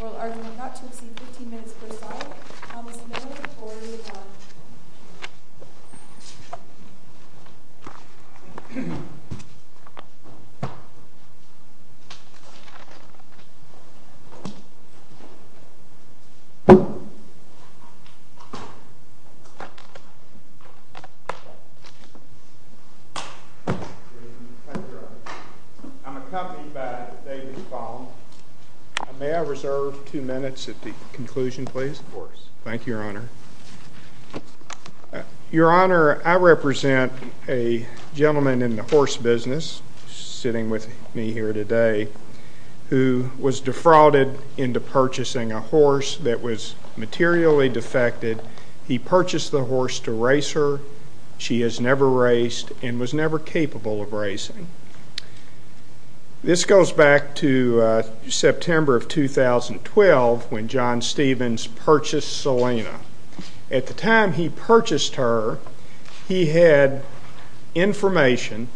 Oral argument not to exceed 15 minutes per side. Thank you, Your Honor. I'm accompanied by David Follam. May I reserve two minutes at the conclusion, please? Of course. Thank you, Your Honor. Your Honor, I represent a gentleman in the horse business, sitting with me here today, who was defrauded into purchasing a horse that was materially defected. He purchased the horse to race her. She has never raced and was never capable of racing. This goes back to September of 2012, when John Stephens purchased Selena. At the time he purchased her, he had information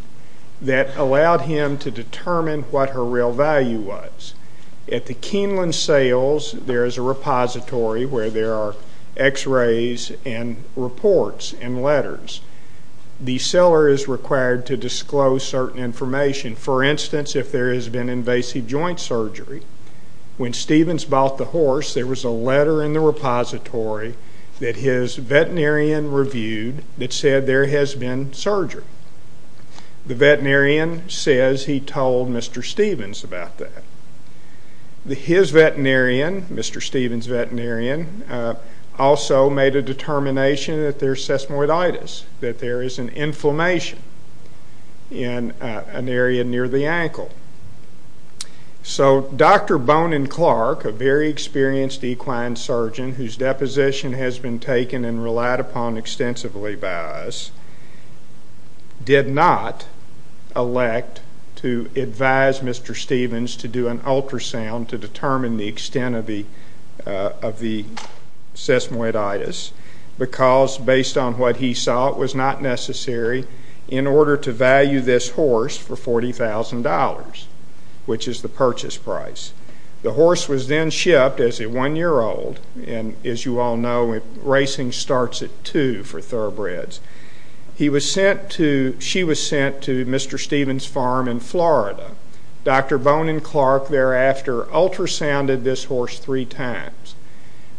that allowed him to determine what her real value was. At the Keeneland sales, there is a repository where there are x-rays and reports and letters. The seller is required to disclose certain information. For instance, if there has been invasive joint surgery, when Stephens bought the horse, there was a letter in the repository that his veterinarian reviewed that said there has been surgery. The veterinarian says he told Mr. Stephens about that. His veterinarian, Mr. Stephens' veterinarian, also made a determination that there is sesamoiditis, that there is an inflammation in an area near the ankle. So Dr. Bonin Clark, a very experienced equine surgeon, whose deposition has been taken and relied upon extensively by us, did not elect to advise Mr. Stephens to do an ultrasound to determine the extent of the sesamoiditis, because, based on what he saw, it was not necessary in order to value this horse for $40,000, which is the purchase price. The horse was then shipped as a one-year-old, and as you all know, racing starts at two for thoroughbreds. She was sent to Mr. Stephens' farm in Florida. Dr. Bonin Clark thereafter ultrasounded this horse three times.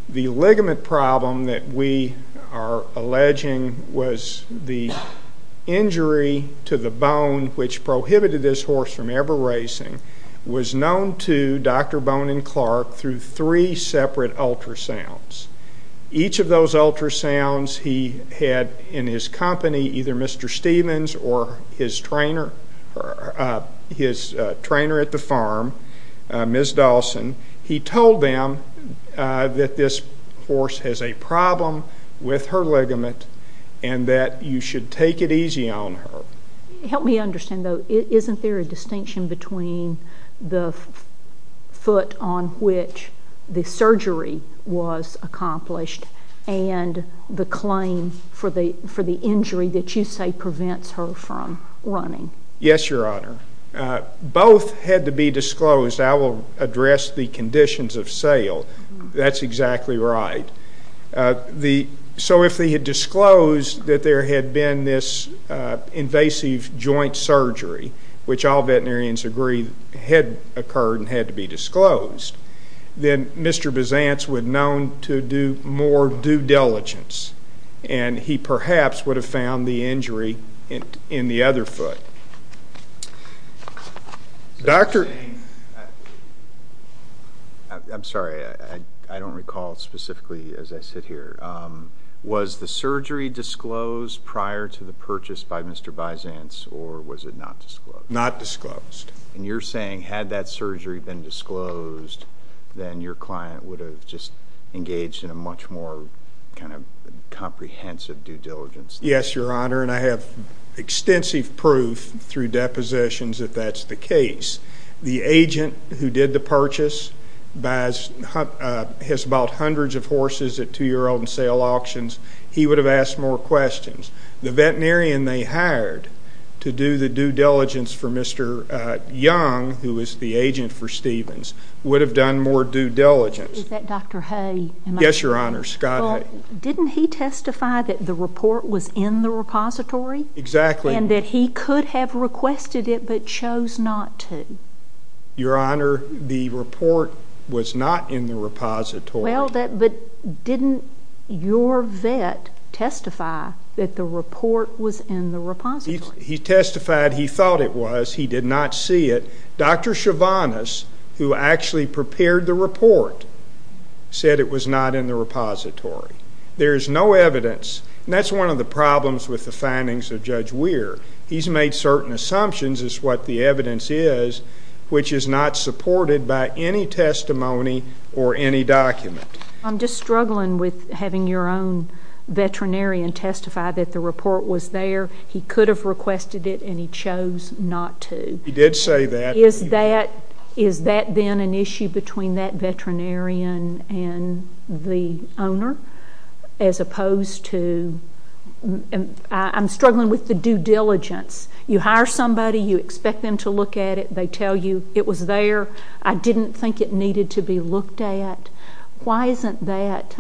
The ligament problem that we are alleging was the injury to the bone which prohibited this horse from ever racing was known to Dr. Bonin Clark through three separate ultrasounds. Each of those ultrasounds he had in his company, either Mr. Stephens or his trainer at the farm, Ms. Dawson, he told them that this horse has a problem with her ligament and that you should take it easy on her. Help me understand, though. Isn't there a distinction between the foot on which the surgery was accomplished and the claim for the injury that you say prevents her from running? Yes, Your Honor. Both had to be disclosed. I will address the conditions of sale. That's exactly right. So if they had disclosed that there had been this invasive joint surgery, which all veterinarians agree had occurred and had to be disclosed, then Mr. Byzance would have been known to do more due diligence and he perhaps would have found the injury in the other foot. I'm sorry. I don't recall specifically as I sit here. Was the surgery disclosed prior to the purchase by Mr. Byzance or was it not disclosed? Not disclosed. And you're saying had that surgery been disclosed, then your client would have just engaged in a much more kind of comprehensive due diligence? Yes, Your Honor, and I have extensive proof through depositions that that's the case. The agent who did the purchase has bought hundreds of horses at 2-year-old and sale auctions. He would have asked more questions. The veterinarian they hired to do the due diligence for Mr. Young, who was the agent for Stevens, would have done more due diligence. Is that Dr. Hay? Yes, Your Honor, Scott Hay. Well, didn't he testify that the report was in the repository? Exactly. And that he could have requested it but chose not to? Your Honor, the report was not in the repository. Well, but didn't your vet testify that the report was in the repository? He testified he thought it was. He did not see it. Dr. Chivanis, who actually prepared the report, said it was not in the repository. There is no evidence, and that's one of the problems with the findings of Judge Weir. He's made certain assumptions as to what the evidence is, which is not supported by any testimony or any document. I'm just struggling with having your own veterinarian testify that the report was there. He could have requested it, and he chose not to. He did say that. Is that then an issue between that veterinarian and the owner as opposed to? I'm struggling with the due diligence. You hire somebody, you expect them to look at it, they tell you it was there, I didn't think it needed to be looked at. Why isn't that,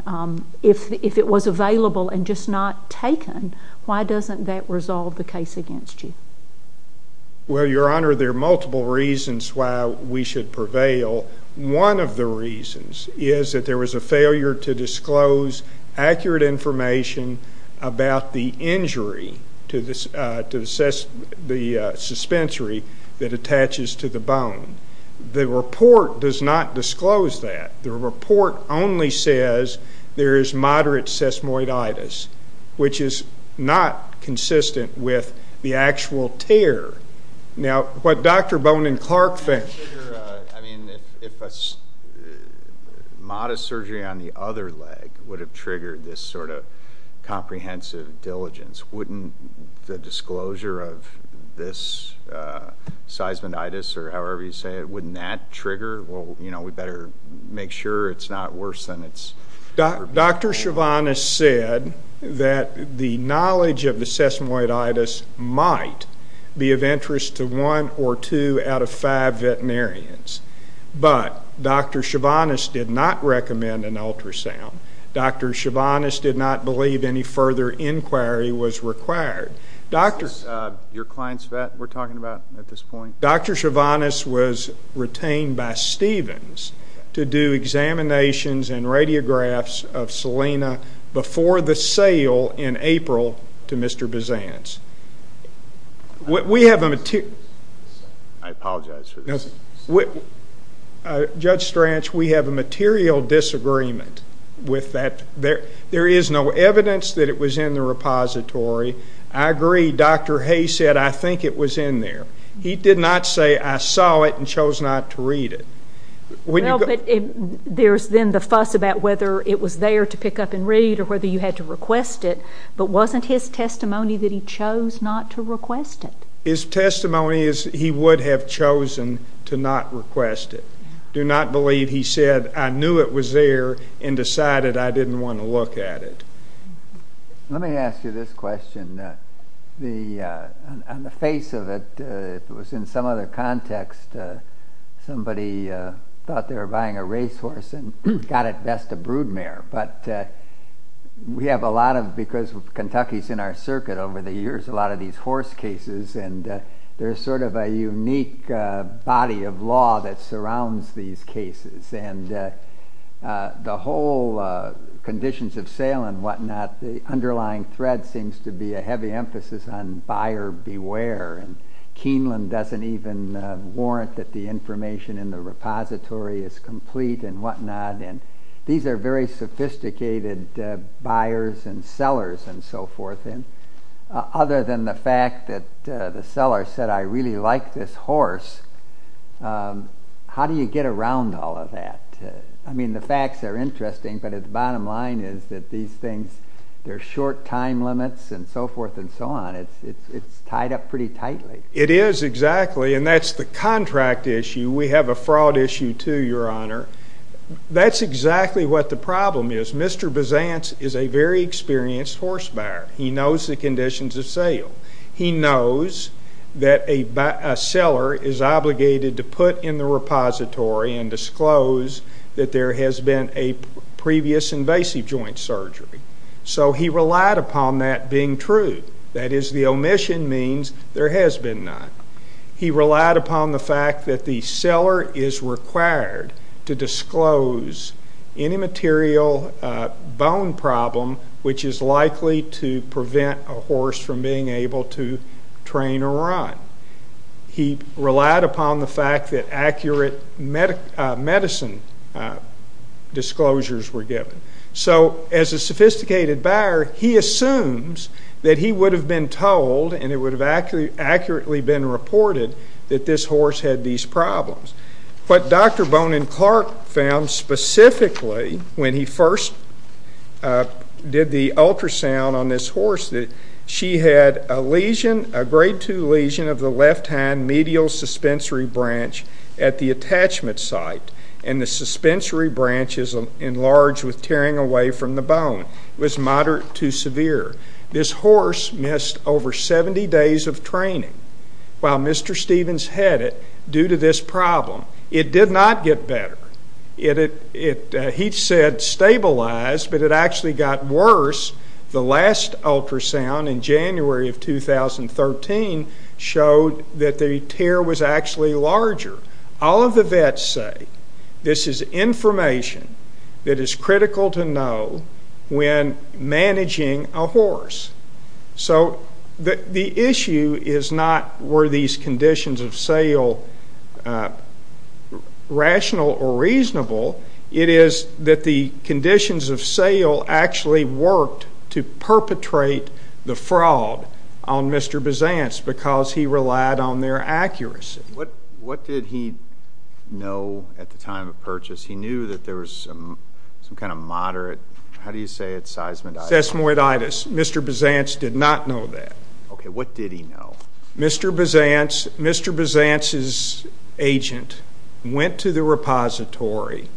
if it was available and just not taken, why doesn't that resolve the case against you? Well, Your Honor, there are multiple reasons why we should prevail. One of the reasons is that there was a failure to disclose accurate information about the injury to the suspensory that attaches to the bone. The report does not disclose that. The report only says there is moderate sesamoiditis, which is not consistent with the actual tear. Now, what Dr. Bone and Clark think. I mean, if a modest surgery on the other leg would have triggered this sort of comprehensive diligence, wouldn't the disclosure of this seismoiditis or however you say it, wouldn't that trigger? Well, you know, we better make sure it's not worse than it's. Dr. Chivanis said that the knowledge of the sesamoiditis might be of interest to one or two out of five veterinarians. But Dr. Chivanis did not recommend an ultrasound. Dr. Chivanis did not believe any further inquiry was required. Is this your client's vet we're talking about at this point? Dr. Chivanis was retained by Stevens to do examinations and radiographs of Selena before the sale in April to Mr. Bizantz. We have a material. I apologize. Judge Strach, we have a material disagreement with that. There is no evidence that it was in the repository. I agree. Dr. Hay said, I think it was in there. He did not say, I saw it and chose not to read it. Well, but there's then the fuss about whether it was there to pick up and read or whether you had to request it. But wasn't his testimony that he chose not to request it? His testimony is he would have chosen to not request it. Do not believe he said, I knew it was there and decided I didn't want to look at it. Let me ask you this question. On the face of it, if it was in some other context, somebody thought they were buying a racehorse and got at best a broodmare. But we have a lot of, because Kentucky is in our circuit over the years, a lot of these horse cases and there's sort of a unique body of law that surrounds these cases. The whole conditions of sale and whatnot, the underlying thread seems to be a heavy emphasis on buyer beware. Keeneland doesn't even warrant that the information in the repository is complete and whatnot. These are very sophisticated buyers and sellers and so forth. Other than the fact that the seller said, I really like this horse, how do you get around all of that? I mean, the facts are interesting, but at the bottom line is that these things, they're short time limits and so forth and so on. It's tied up pretty tightly. It is exactly, and that's the contract issue. We have a fraud issue too, Your Honor. That's exactly what the problem is. Mr. Bizantz is a very experienced horse buyer. He knows the conditions of sale. He knows that a seller is obligated to put in the repository and disclose that there has been a previous invasive joint surgery. So he relied upon that being true. That is, the omission means there has been none. He relied upon the fact that the seller is required to disclose any material bone problem which is likely to prevent a horse from being able to train or run. He relied upon the fact that accurate medicine disclosures were given. So as a sophisticated buyer, he assumes that he would have been told and it would have accurately been reported that this horse had these problems. What Dr. Bonin-Clark found specifically when he first did the ultrasound on this horse, she had a grade II lesion of the left hand medial suspensory branch at the attachment site, and the suspensory branch is enlarged with tearing away from the bone. It was moderate to severe. This horse missed over 70 days of training while Mr. Stevens had it due to this problem. It did not get better. He said stabilized, but it actually got worse. The last ultrasound in January of 2013 showed that the tear was actually larger. All of the vets say this is information that is critical to know when managing a horse. So the issue is not were these conditions of sale rational or reasonable. It is that the conditions of sale actually worked to perpetrate the fraud on Mr. Bizantz because he relied on their accuracy. What did he know at the time of purchase? He knew that there was some kind of moderate, how do you say it, seismic? Seismoiditis. Mr. Bizantz did not know that. Okay, what did he know? Mr. Bizantz's agent went to the repository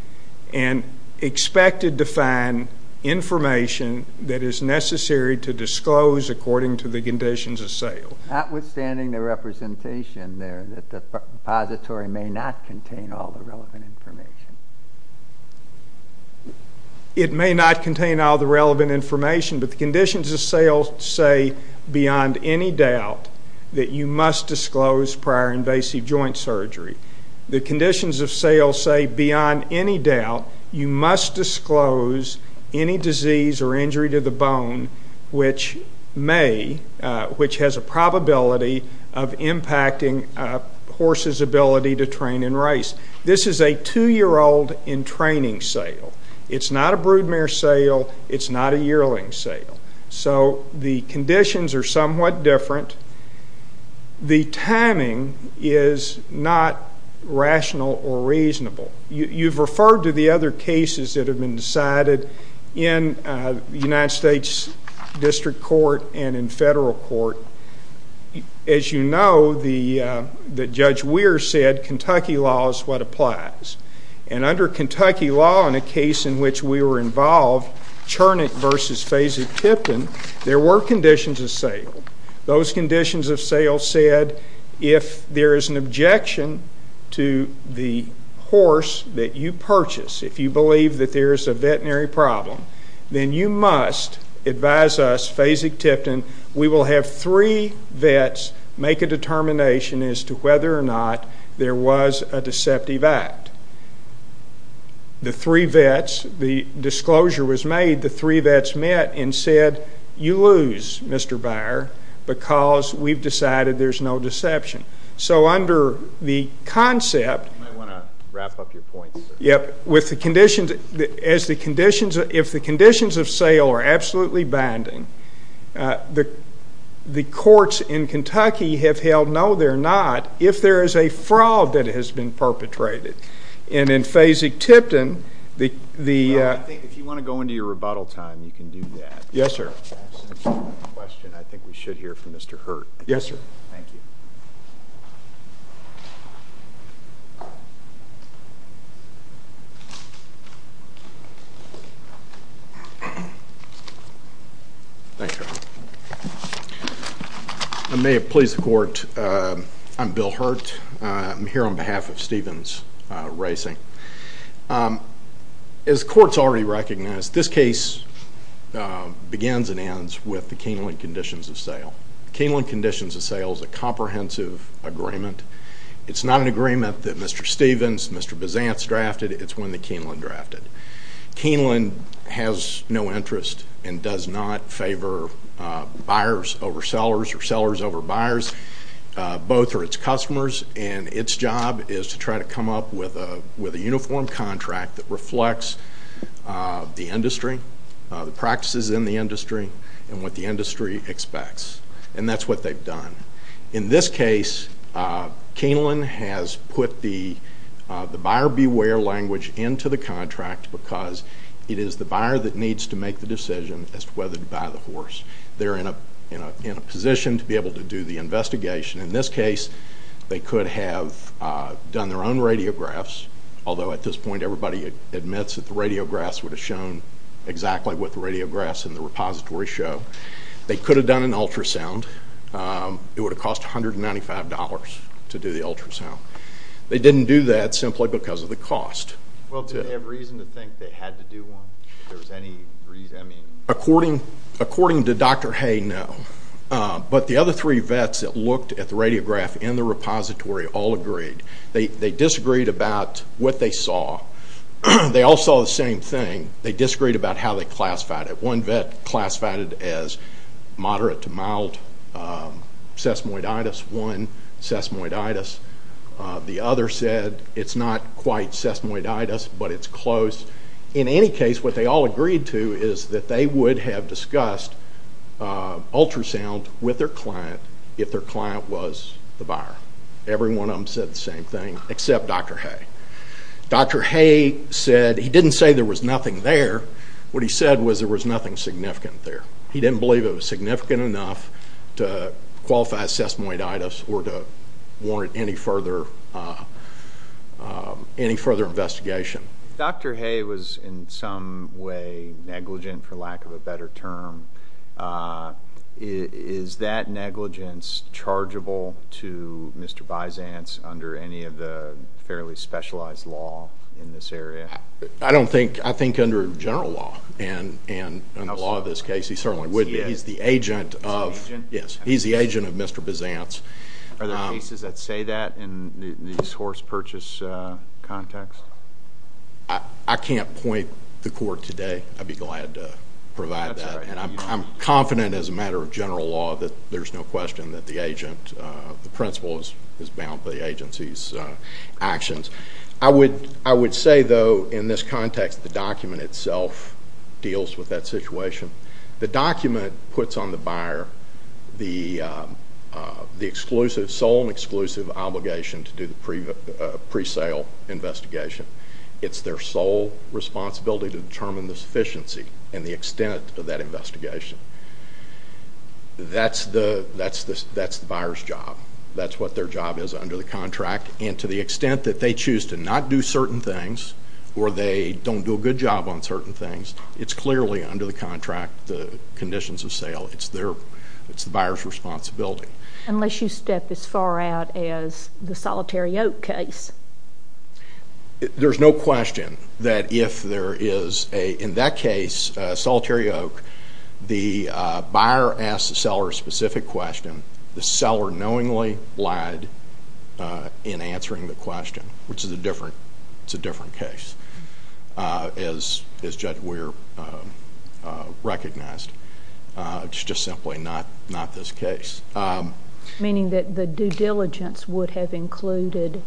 and expected to find information that is necessary to disclose according to the conditions of sale. Notwithstanding the representation there that the repository may not contain all the relevant information. It may not contain all the relevant information, but the conditions of sale say beyond any doubt that you must disclose prior invasive joint surgery. The conditions of sale say beyond any doubt you must disclose any disease or injury to the bone which has a probability of impacting a horse's ability to train and race. This is a two-year-old in training sale. It's not a broodmare sale. It's not a yearling sale. So the conditions are somewhat different. The timing is not rational or reasonable. You've referred to the other cases that have been decided in the United States District Court and in federal court. As you know, Judge Weir said, Kentucky law is what applies. And under Kentucky law in a case in which we were involved, Churnick v. Fasig-Tipton, there were conditions of sale. Those conditions of sale said if there is an objection to the horse that you purchase, if you believe that there is a veterinary problem, then you must advise us, Fasig-Tipton, we will have three vets make a determination as to whether or not there was a deceptive act. The three vets, the disclosure was made, the three vets met and said, you lose, Mr. Beyer, because we've decided there's no deception. So under the concept of the conditions of sale are absolutely binding, the courts in Kentucky have held no, they're not, if there is a fraud that has been perpetrated. And in Fasig-Tipton, the- If you want to go into your rebuttal time, you can do that. Yes, sir. I think we should hear from Mr. Hurt. Yes, sir. Thank you. I may have pleased the court. I'm Bill Hurt. I'm here on behalf of Stevens Racing. As courts already recognize, this case begins and ends with the Keeneland conditions of sale. Keeneland conditions of sale is a comprehensive agreement. It's not an agreement that Mr. Stevens, Mr. Bizantz drafted. It's one that Keeneland drafted. Keeneland has no interest and does not favor buyers over sellers or sellers over buyers. Both are its customers, and its job is to try to come up with a uniform contract that reflects the industry, the practices in the industry, and what the industry expects. And that's what they've done. In this case, Keeneland has put the buyer beware language into the contract because it is the buyer that needs to make the decision as to whether to buy the horse. They're in a position to be able to do the investigation. In this case, they could have done their own radiographs, although at this point everybody admits that the radiographs would have shown exactly what the radiographs in the repository show. They could have done an ultrasound. It would have cost $195 to do the ultrasound. They didn't do that simply because of the cost. Well, do they have reason to think they had to do one? If there was any reason? According to Dr. Hay, no. But the other three vets that looked at the radiograph in the repository all agreed. They disagreed about what they saw. They all saw the same thing. They disagreed about how they classified it. One vet classified it as moderate to mild sesamoiditis, one sesamoiditis. The other said it's not quite sesamoiditis, but it's close. In any case, what they all agreed to is that they would have discussed ultrasound with their client if their client was the buyer. Every one of them said the same thing except Dr. Hay. Dr. Hay said he didn't say there was nothing there. What he said was there was nothing significant there. He didn't believe it was significant enough to qualify as sesamoiditis or to warrant any further investigation. If Dr. Hay was in some way negligent, for lack of a better term, is that negligence chargeable to Mr. Byzance under any of the fairly specialized law in this area? I don't think. I think under general law and the law of this case, he certainly would be. He's the agent of Mr. Byzance. Are there cases that say that in the source purchase context? I can't point the court today. I'd be glad to provide that. That's all right. I'm confident as a matter of general law that there's no question that the principal is bound by the agency's actions. I would say, though, in this context, the document itself deals with that situation. The document puts on the buyer the sole and exclusive obligation to do the presale investigation. It's their sole responsibility to determine the sufficiency and the extent of that investigation. That's the buyer's job. That's what their job is under the contract, and to the extent that they choose to not do certain things or they don't do a good job on certain things, it's clearly under the contract the conditions of sale. It's the buyer's responsibility. Unless you step as far out as the Solitary Oak case. There's no question that if there is, in that case, Solitary Oak, the buyer asks the seller a specific question. The seller knowingly lied in answering the question, which is a different case. As Judge Weir recognized, it's just simply not this case. Meaning that the due diligence would have included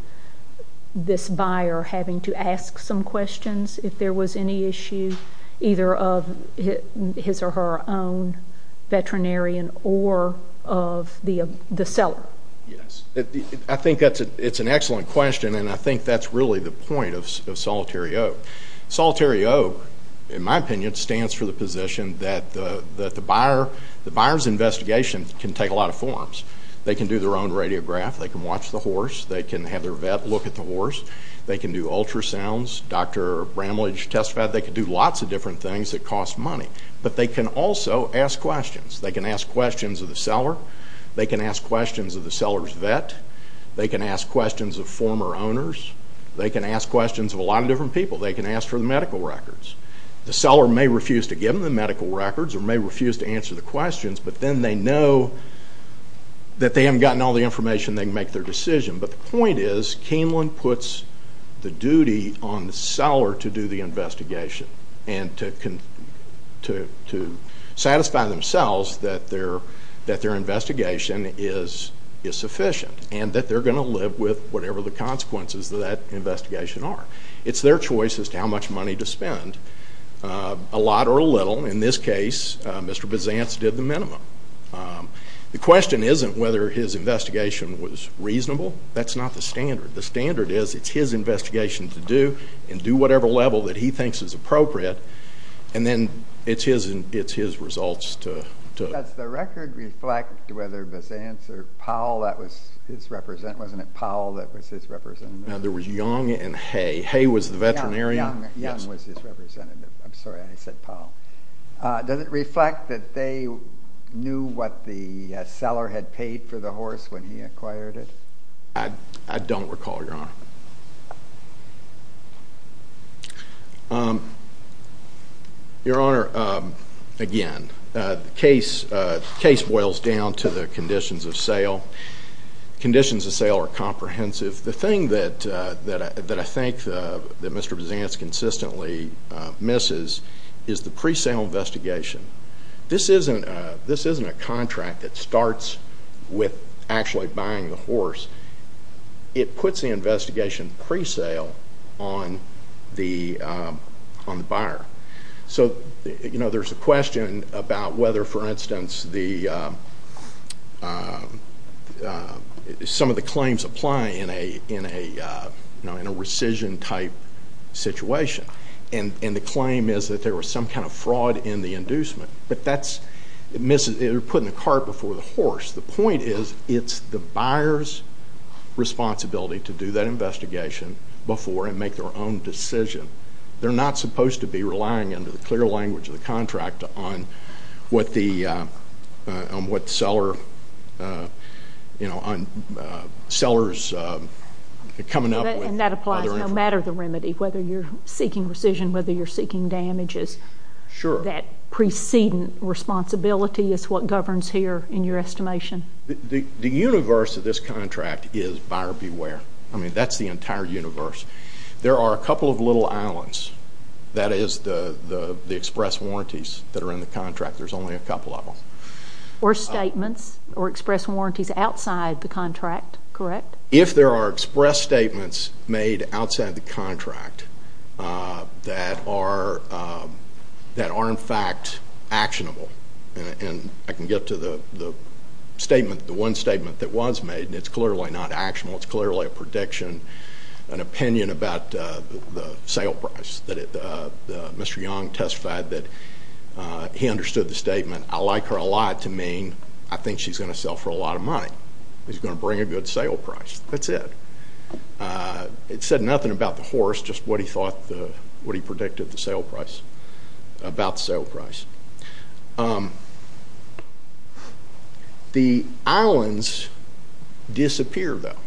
this buyer having to ask some questions if there was any issue, either of his or her own veterinarian or of the seller? Yes. I think that's an excellent question, and I think that's really the point of Solitary Oak. Solitary Oak, in my opinion, stands for the position that the buyer's investigation can take a lot of forms. They can do their own radiograph. They can watch the horse. They can have their vet look at the horse. They can do ultrasounds. Dr. Bramlage testified they could do lots of different things that cost money. But they can also ask questions. They can ask questions of the seller. They can ask questions of the seller's vet. They can ask questions of former owners. They can ask questions of a lot of different people. They can ask for the medical records. The seller may refuse to give them the medical records or may refuse to answer the questions, but then they know that they haven't gotten all the information they can make their decision. But the point is, Camelon puts the duty on the seller to do the investigation and to satisfy themselves that their investigation is sufficient and that they're going to live with whatever the consequences of that investigation are. It's their choice as to how much money to spend, a lot or a little. In this case, Mr. Bizantz did the minimum. The question isn't whether his investigation was reasonable. That's not the standard. The standard is it's his investigation to do and do whatever level that he thinks is appropriate, and then it's his results to look at. Does the record reflect whether Bizantz or Powell, wasn't it Powell that was his representative? No, there was Young and Hay. Hay was the veterinarian. Young was his representative. I'm sorry I said Powell. Does it reflect that they knew what the seller had paid for the horse when he acquired it? I don't recall, Your Honor. Your Honor, again, the case boils down to the conditions of sale. Conditions of sale are comprehensive. The thing that I think that Mr. Bizantz consistently misses is the pre-sale investigation. This isn't a contract that starts with actually buying the horse. It puts the investigation pre-sale on the buyer. There's a question about whether, for instance, some of the claims apply in a rescission-type situation, and the claim is that there was some kind of fraud in the inducement, but that's missing. They're putting the cart before the horse. The point is it's the buyer's responsibility to do that investigation before and make their own decision. They're not supposed to be relying under the clear language of the contract on what the seller's coming up with. And that applies no matter the remedy, whether you're seeking rescission, whether you're seeking damages. Sure. That precedent responsibility is what governs here in your estimation. The universe of this contract is buyer beware. I mean, that's the entire universe. There are a couple of little islands. That is the express warranties that are in the contract. There's only a couple of them. Or statements or express warranties outside the contract, correct? If there are express statements made outside the contract that are in fact actionable, and I can get to the statement, the one statement that was made, and it's clearly not actionable. It's clearly a prediction, an opinion about the sale price. Mr. Young testified that he understood the statement. I like her a lot to mean I think she's going to sell for a lot of money. She's going to bring a good sale price. That's it. It said nothing about the horse, just what he thought, what he predicted the sale price, about the sale price. The islands disappear, though,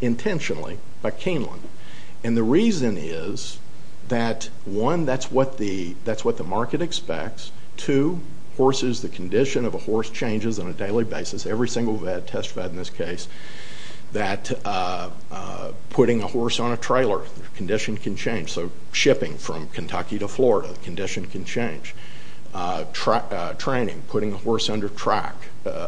intentionally, by Keeneland. And the reason is that, one, that's what the market expects. Two, horses, the condition of a horse changes on a daily basis. Every single vet testified in this case that putting a horse on a trailer, the condition can change. So shipping from Kentucky to Florida, the condition can change. Training, putting a horse under track,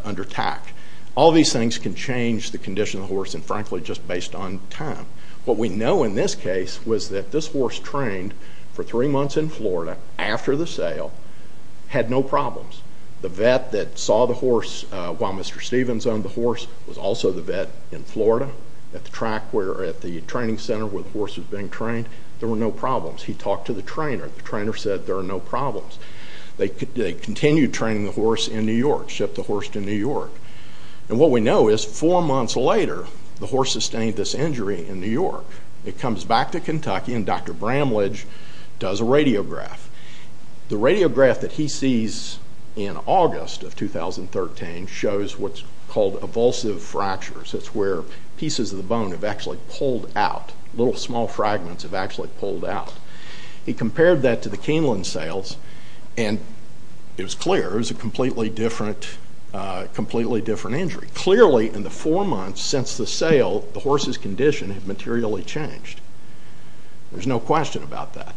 under tack. All these things can change the condition of the horse, and frankly, just based on time. What we know in this case was that this horse trained for three months in Florida after the sale, had no problems. The vet that saw the horse while Mr. Stevens owned the horse was also the vet in Florida at the track, where at the training center where the horse was being trained, there were no problems. He talked to the trainer. The trainer said there are no problems. They continued training the horse in New York, shipped the horse to New York. And what we know is four months later, the horse sustained this injury in New York. It comes back to Kentucky, and Dr. Bramlage does a radiograph. The radiograph that he sees in August of 2013 shows what's called evulsive fractures. That's where pieces of the bone have actually pulled out. Little small fragments have actually pulled out. He compared that to the Keeneland sales, and it was clear it was a completely different injury. Clearly in the four months since the sale, the horse's condition had materially changed. There's no question about that.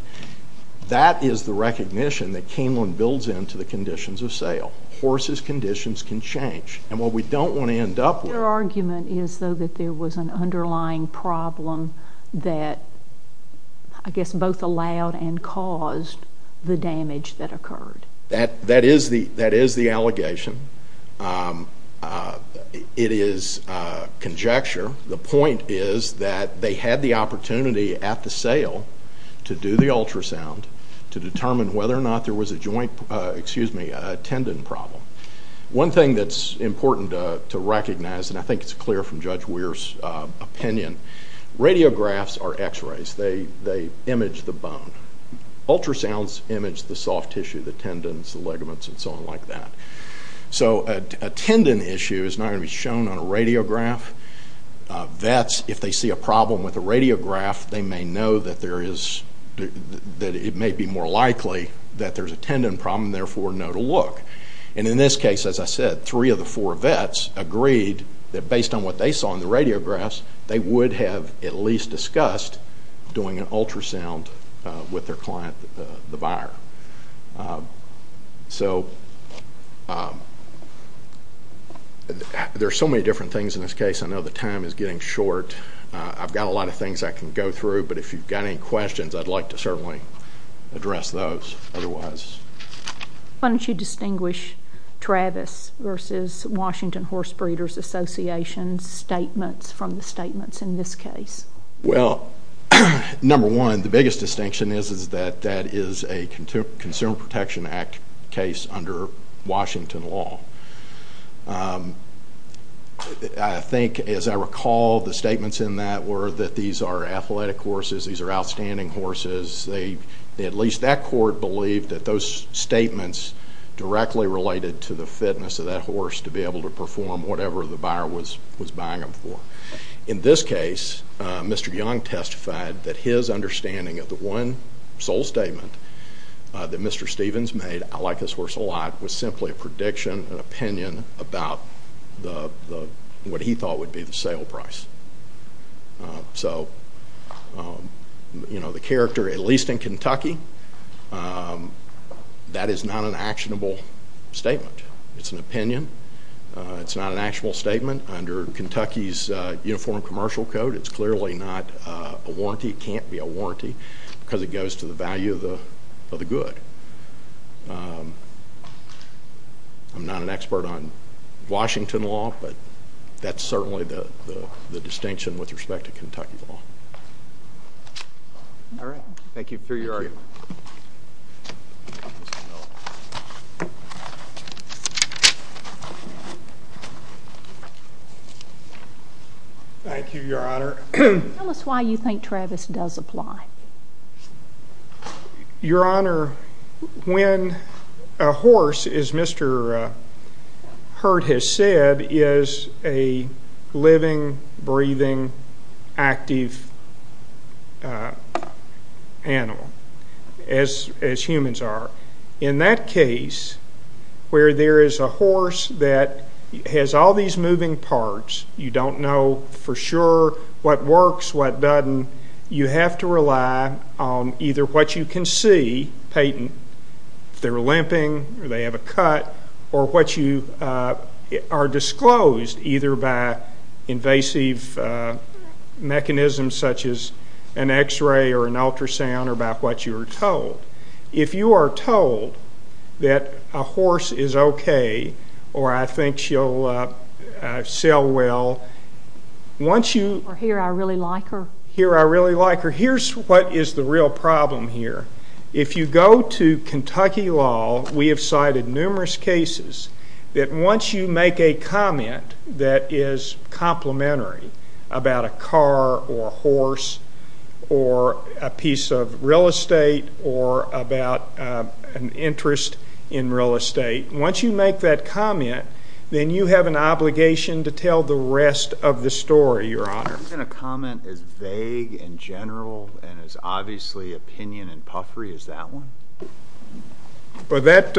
That is the recognition that Keeneland builds into the conditions of sale. Horses' conditions can change. Your argument is, though, that there was an underlying problem that, I guess, both allowed and caused the damage that occurred. That is the allegation. It is conjecture. The point is that they had the opportunity at the sale to do the ultrasound to determine whether or not there was a joint tendon problem. One thing that's important to recognize, and I think it's clear from Judge Weir's opinion, radiographs are x-rays. They image the bone. Ultrasounds image the soft tissue, the tendons, the ligaments, and so on like that. A tendon issue is not going to be shown on a radiograph. Vets, if they see a problem with a radiograph, they may know that it may be more likely that there's a tendon problem, and therefore know to look. In this case, as I said, three of the four vets agreed that, based on what they saw in the radiographs, they would have at least discussed doing an ultrasound with their client, the buyer. There are so many different things in this case. I know the time is getting short. I've got a lot of things I can go through, but if you've got any questions, I'd like to certainly address those otherwise. Why don't you distinguish Travis v. Washington Horse Breeders Association's statements from the statements in this case? Well, number one, the biggest distinction is that that is a Consumer Protection Act case under Washington law. I think, as I recall, the statements in that were that these are athletic horses, these are outstanding horses. At least that court believed that those statements directly related to the fitness of that horse to be able to perform whatever the buyer was buying them for. In this case, Mr. Young testified that his understanding of the one sole statement that Mr. Stevens made, I like this horse a lot, was simply a prediction, an opinion, about what he thought would be the sale price. So the character, at least in Kentucky, that is not an actionable statement. It's an opinion. It's not an actual statement under Kentucky's Uniform Commercial Code. It's clearly not a warranty. It can't be a warranty because it goes to the value of the good. I'm not an expert on Washington law, but that's certainly the distinction with respect to Kentucky law. All right. Thank you for your argument. Thank you, Your Honor. Tell us why you think Travis does apply. Your Honor, when a horse, as Mr. Hurd has said, is a living, breathing, active animal, as humans are, in that case where there is a horse that has all these moving parts, you don't know for sure what works, what doesn't, you have to rely on either what you can see, patent, if they're limping or they have a cut, or what you are disclosed, either by invasive mechanisms such as an X-ray or an ultrasound or by what you are told. If you are told that a horse is okay or I think she'll sell well, once you... Or here I really like her. Here I really like her. Here's what is the real problem here. If you go to Kentucky law, we have cited numerous cases that once you make a comment that is complimentary about a car or a horse or a piece of real estate or about an interest in real estate, once you make that comment, then you have an obligation to tell the rest of the story, Your Honor. I'm going to comment as vague and general and as obviously opinion and puffery as that one. Well, that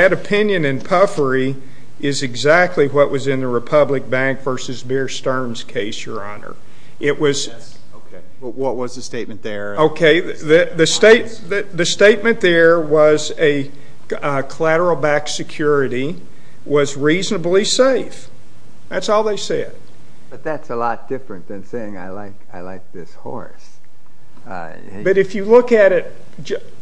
opinion and puffery is exactly what was in the Republic Bank v. Beer Stearns case, Your Honor. It was... Okay, what was the statement there? Okay, the statement there was a collateral-backed security was reasonably safe. That's all they said. But that's a lot different than saying I like this horse. But if you look at it,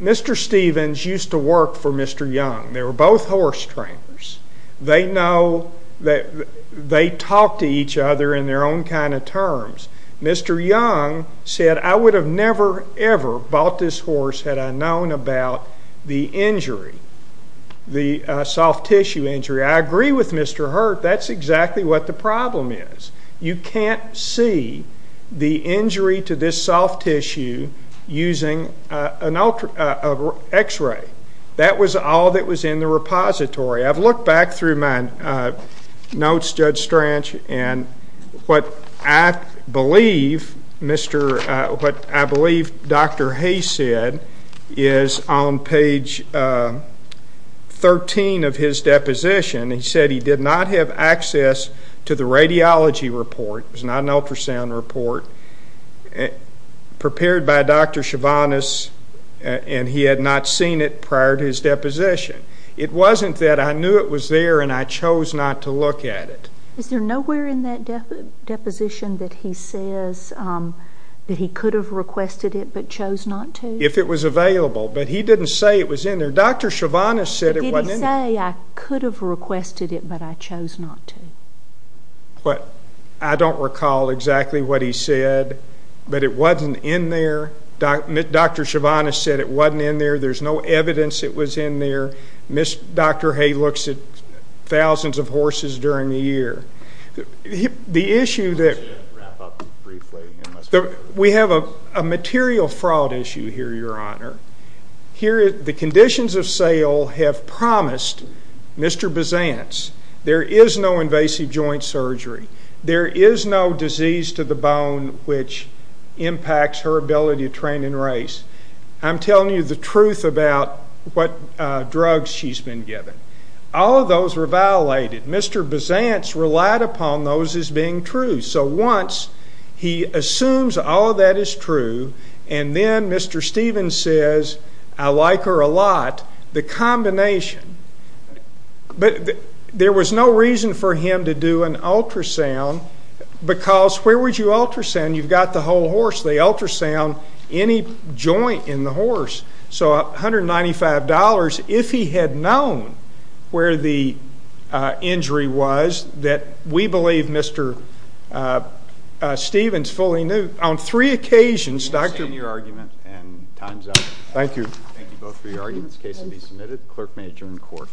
Mr. Stevens used to work for Mr. Young. They were both horse trainers. They know that they talk to each other in their own kind of terms. Mr. Young said, I would have never, ever bought this horse had I known about the injury, the soft tissue injury. I agree with Mr. Hurt. That's exactly what the problem is. You can't see the injury to this soft tissue using an X-ray. That was all that was in the repository. I've looked back through my notes, Judge Strange, and what I believe Dr. Hayes said is on page 13 of his deposition. He said he did not have access to the radiology report. It was not an ultrasound report prepared by Dr. Chivanis, and he had not seen it prior to his deposition. It wasn't that I knew it was there and I chose not to look at it. Is there nowhere in that deposition that he says that he could have requested it but chose not to? If it was available. But he didn't say it was in there. Dr. Chivanis said it wasn't in there. I could have requested it, but I chose not to. I don't recall exactly what he said, but it wasn't in there. Dr. Chivanis said it wasn't in there. There's no evidence it was in there. Dr. Hayes looks at thousands of horses during the year. We have a material fraud issue here, Your Honor. The conditions of sale have promised Mr. Besantz there is no invasive joint surgery. There is no disease to the bone which impacts her ability to train and race. I'm telling you the truth about what drugs she's been given. All of those were violated. Mr. Besantz relied upon those as being true. So once he assumes all of that is true, and then Mr. Stevens says, I like her a lot, the combination. But there was no reason for him to do an ultrasound because where would you ultrasound? You've got the whole horse. They ultrasound any joint in the horse. So $195, if he had known where the injury was, that we believe Mr. Stevens fully knew. On three occasions, Dr. We understand your argument and time's up. Thank you. Thank you both for your arguments. Case to be submitted. Clerk may adjourn court.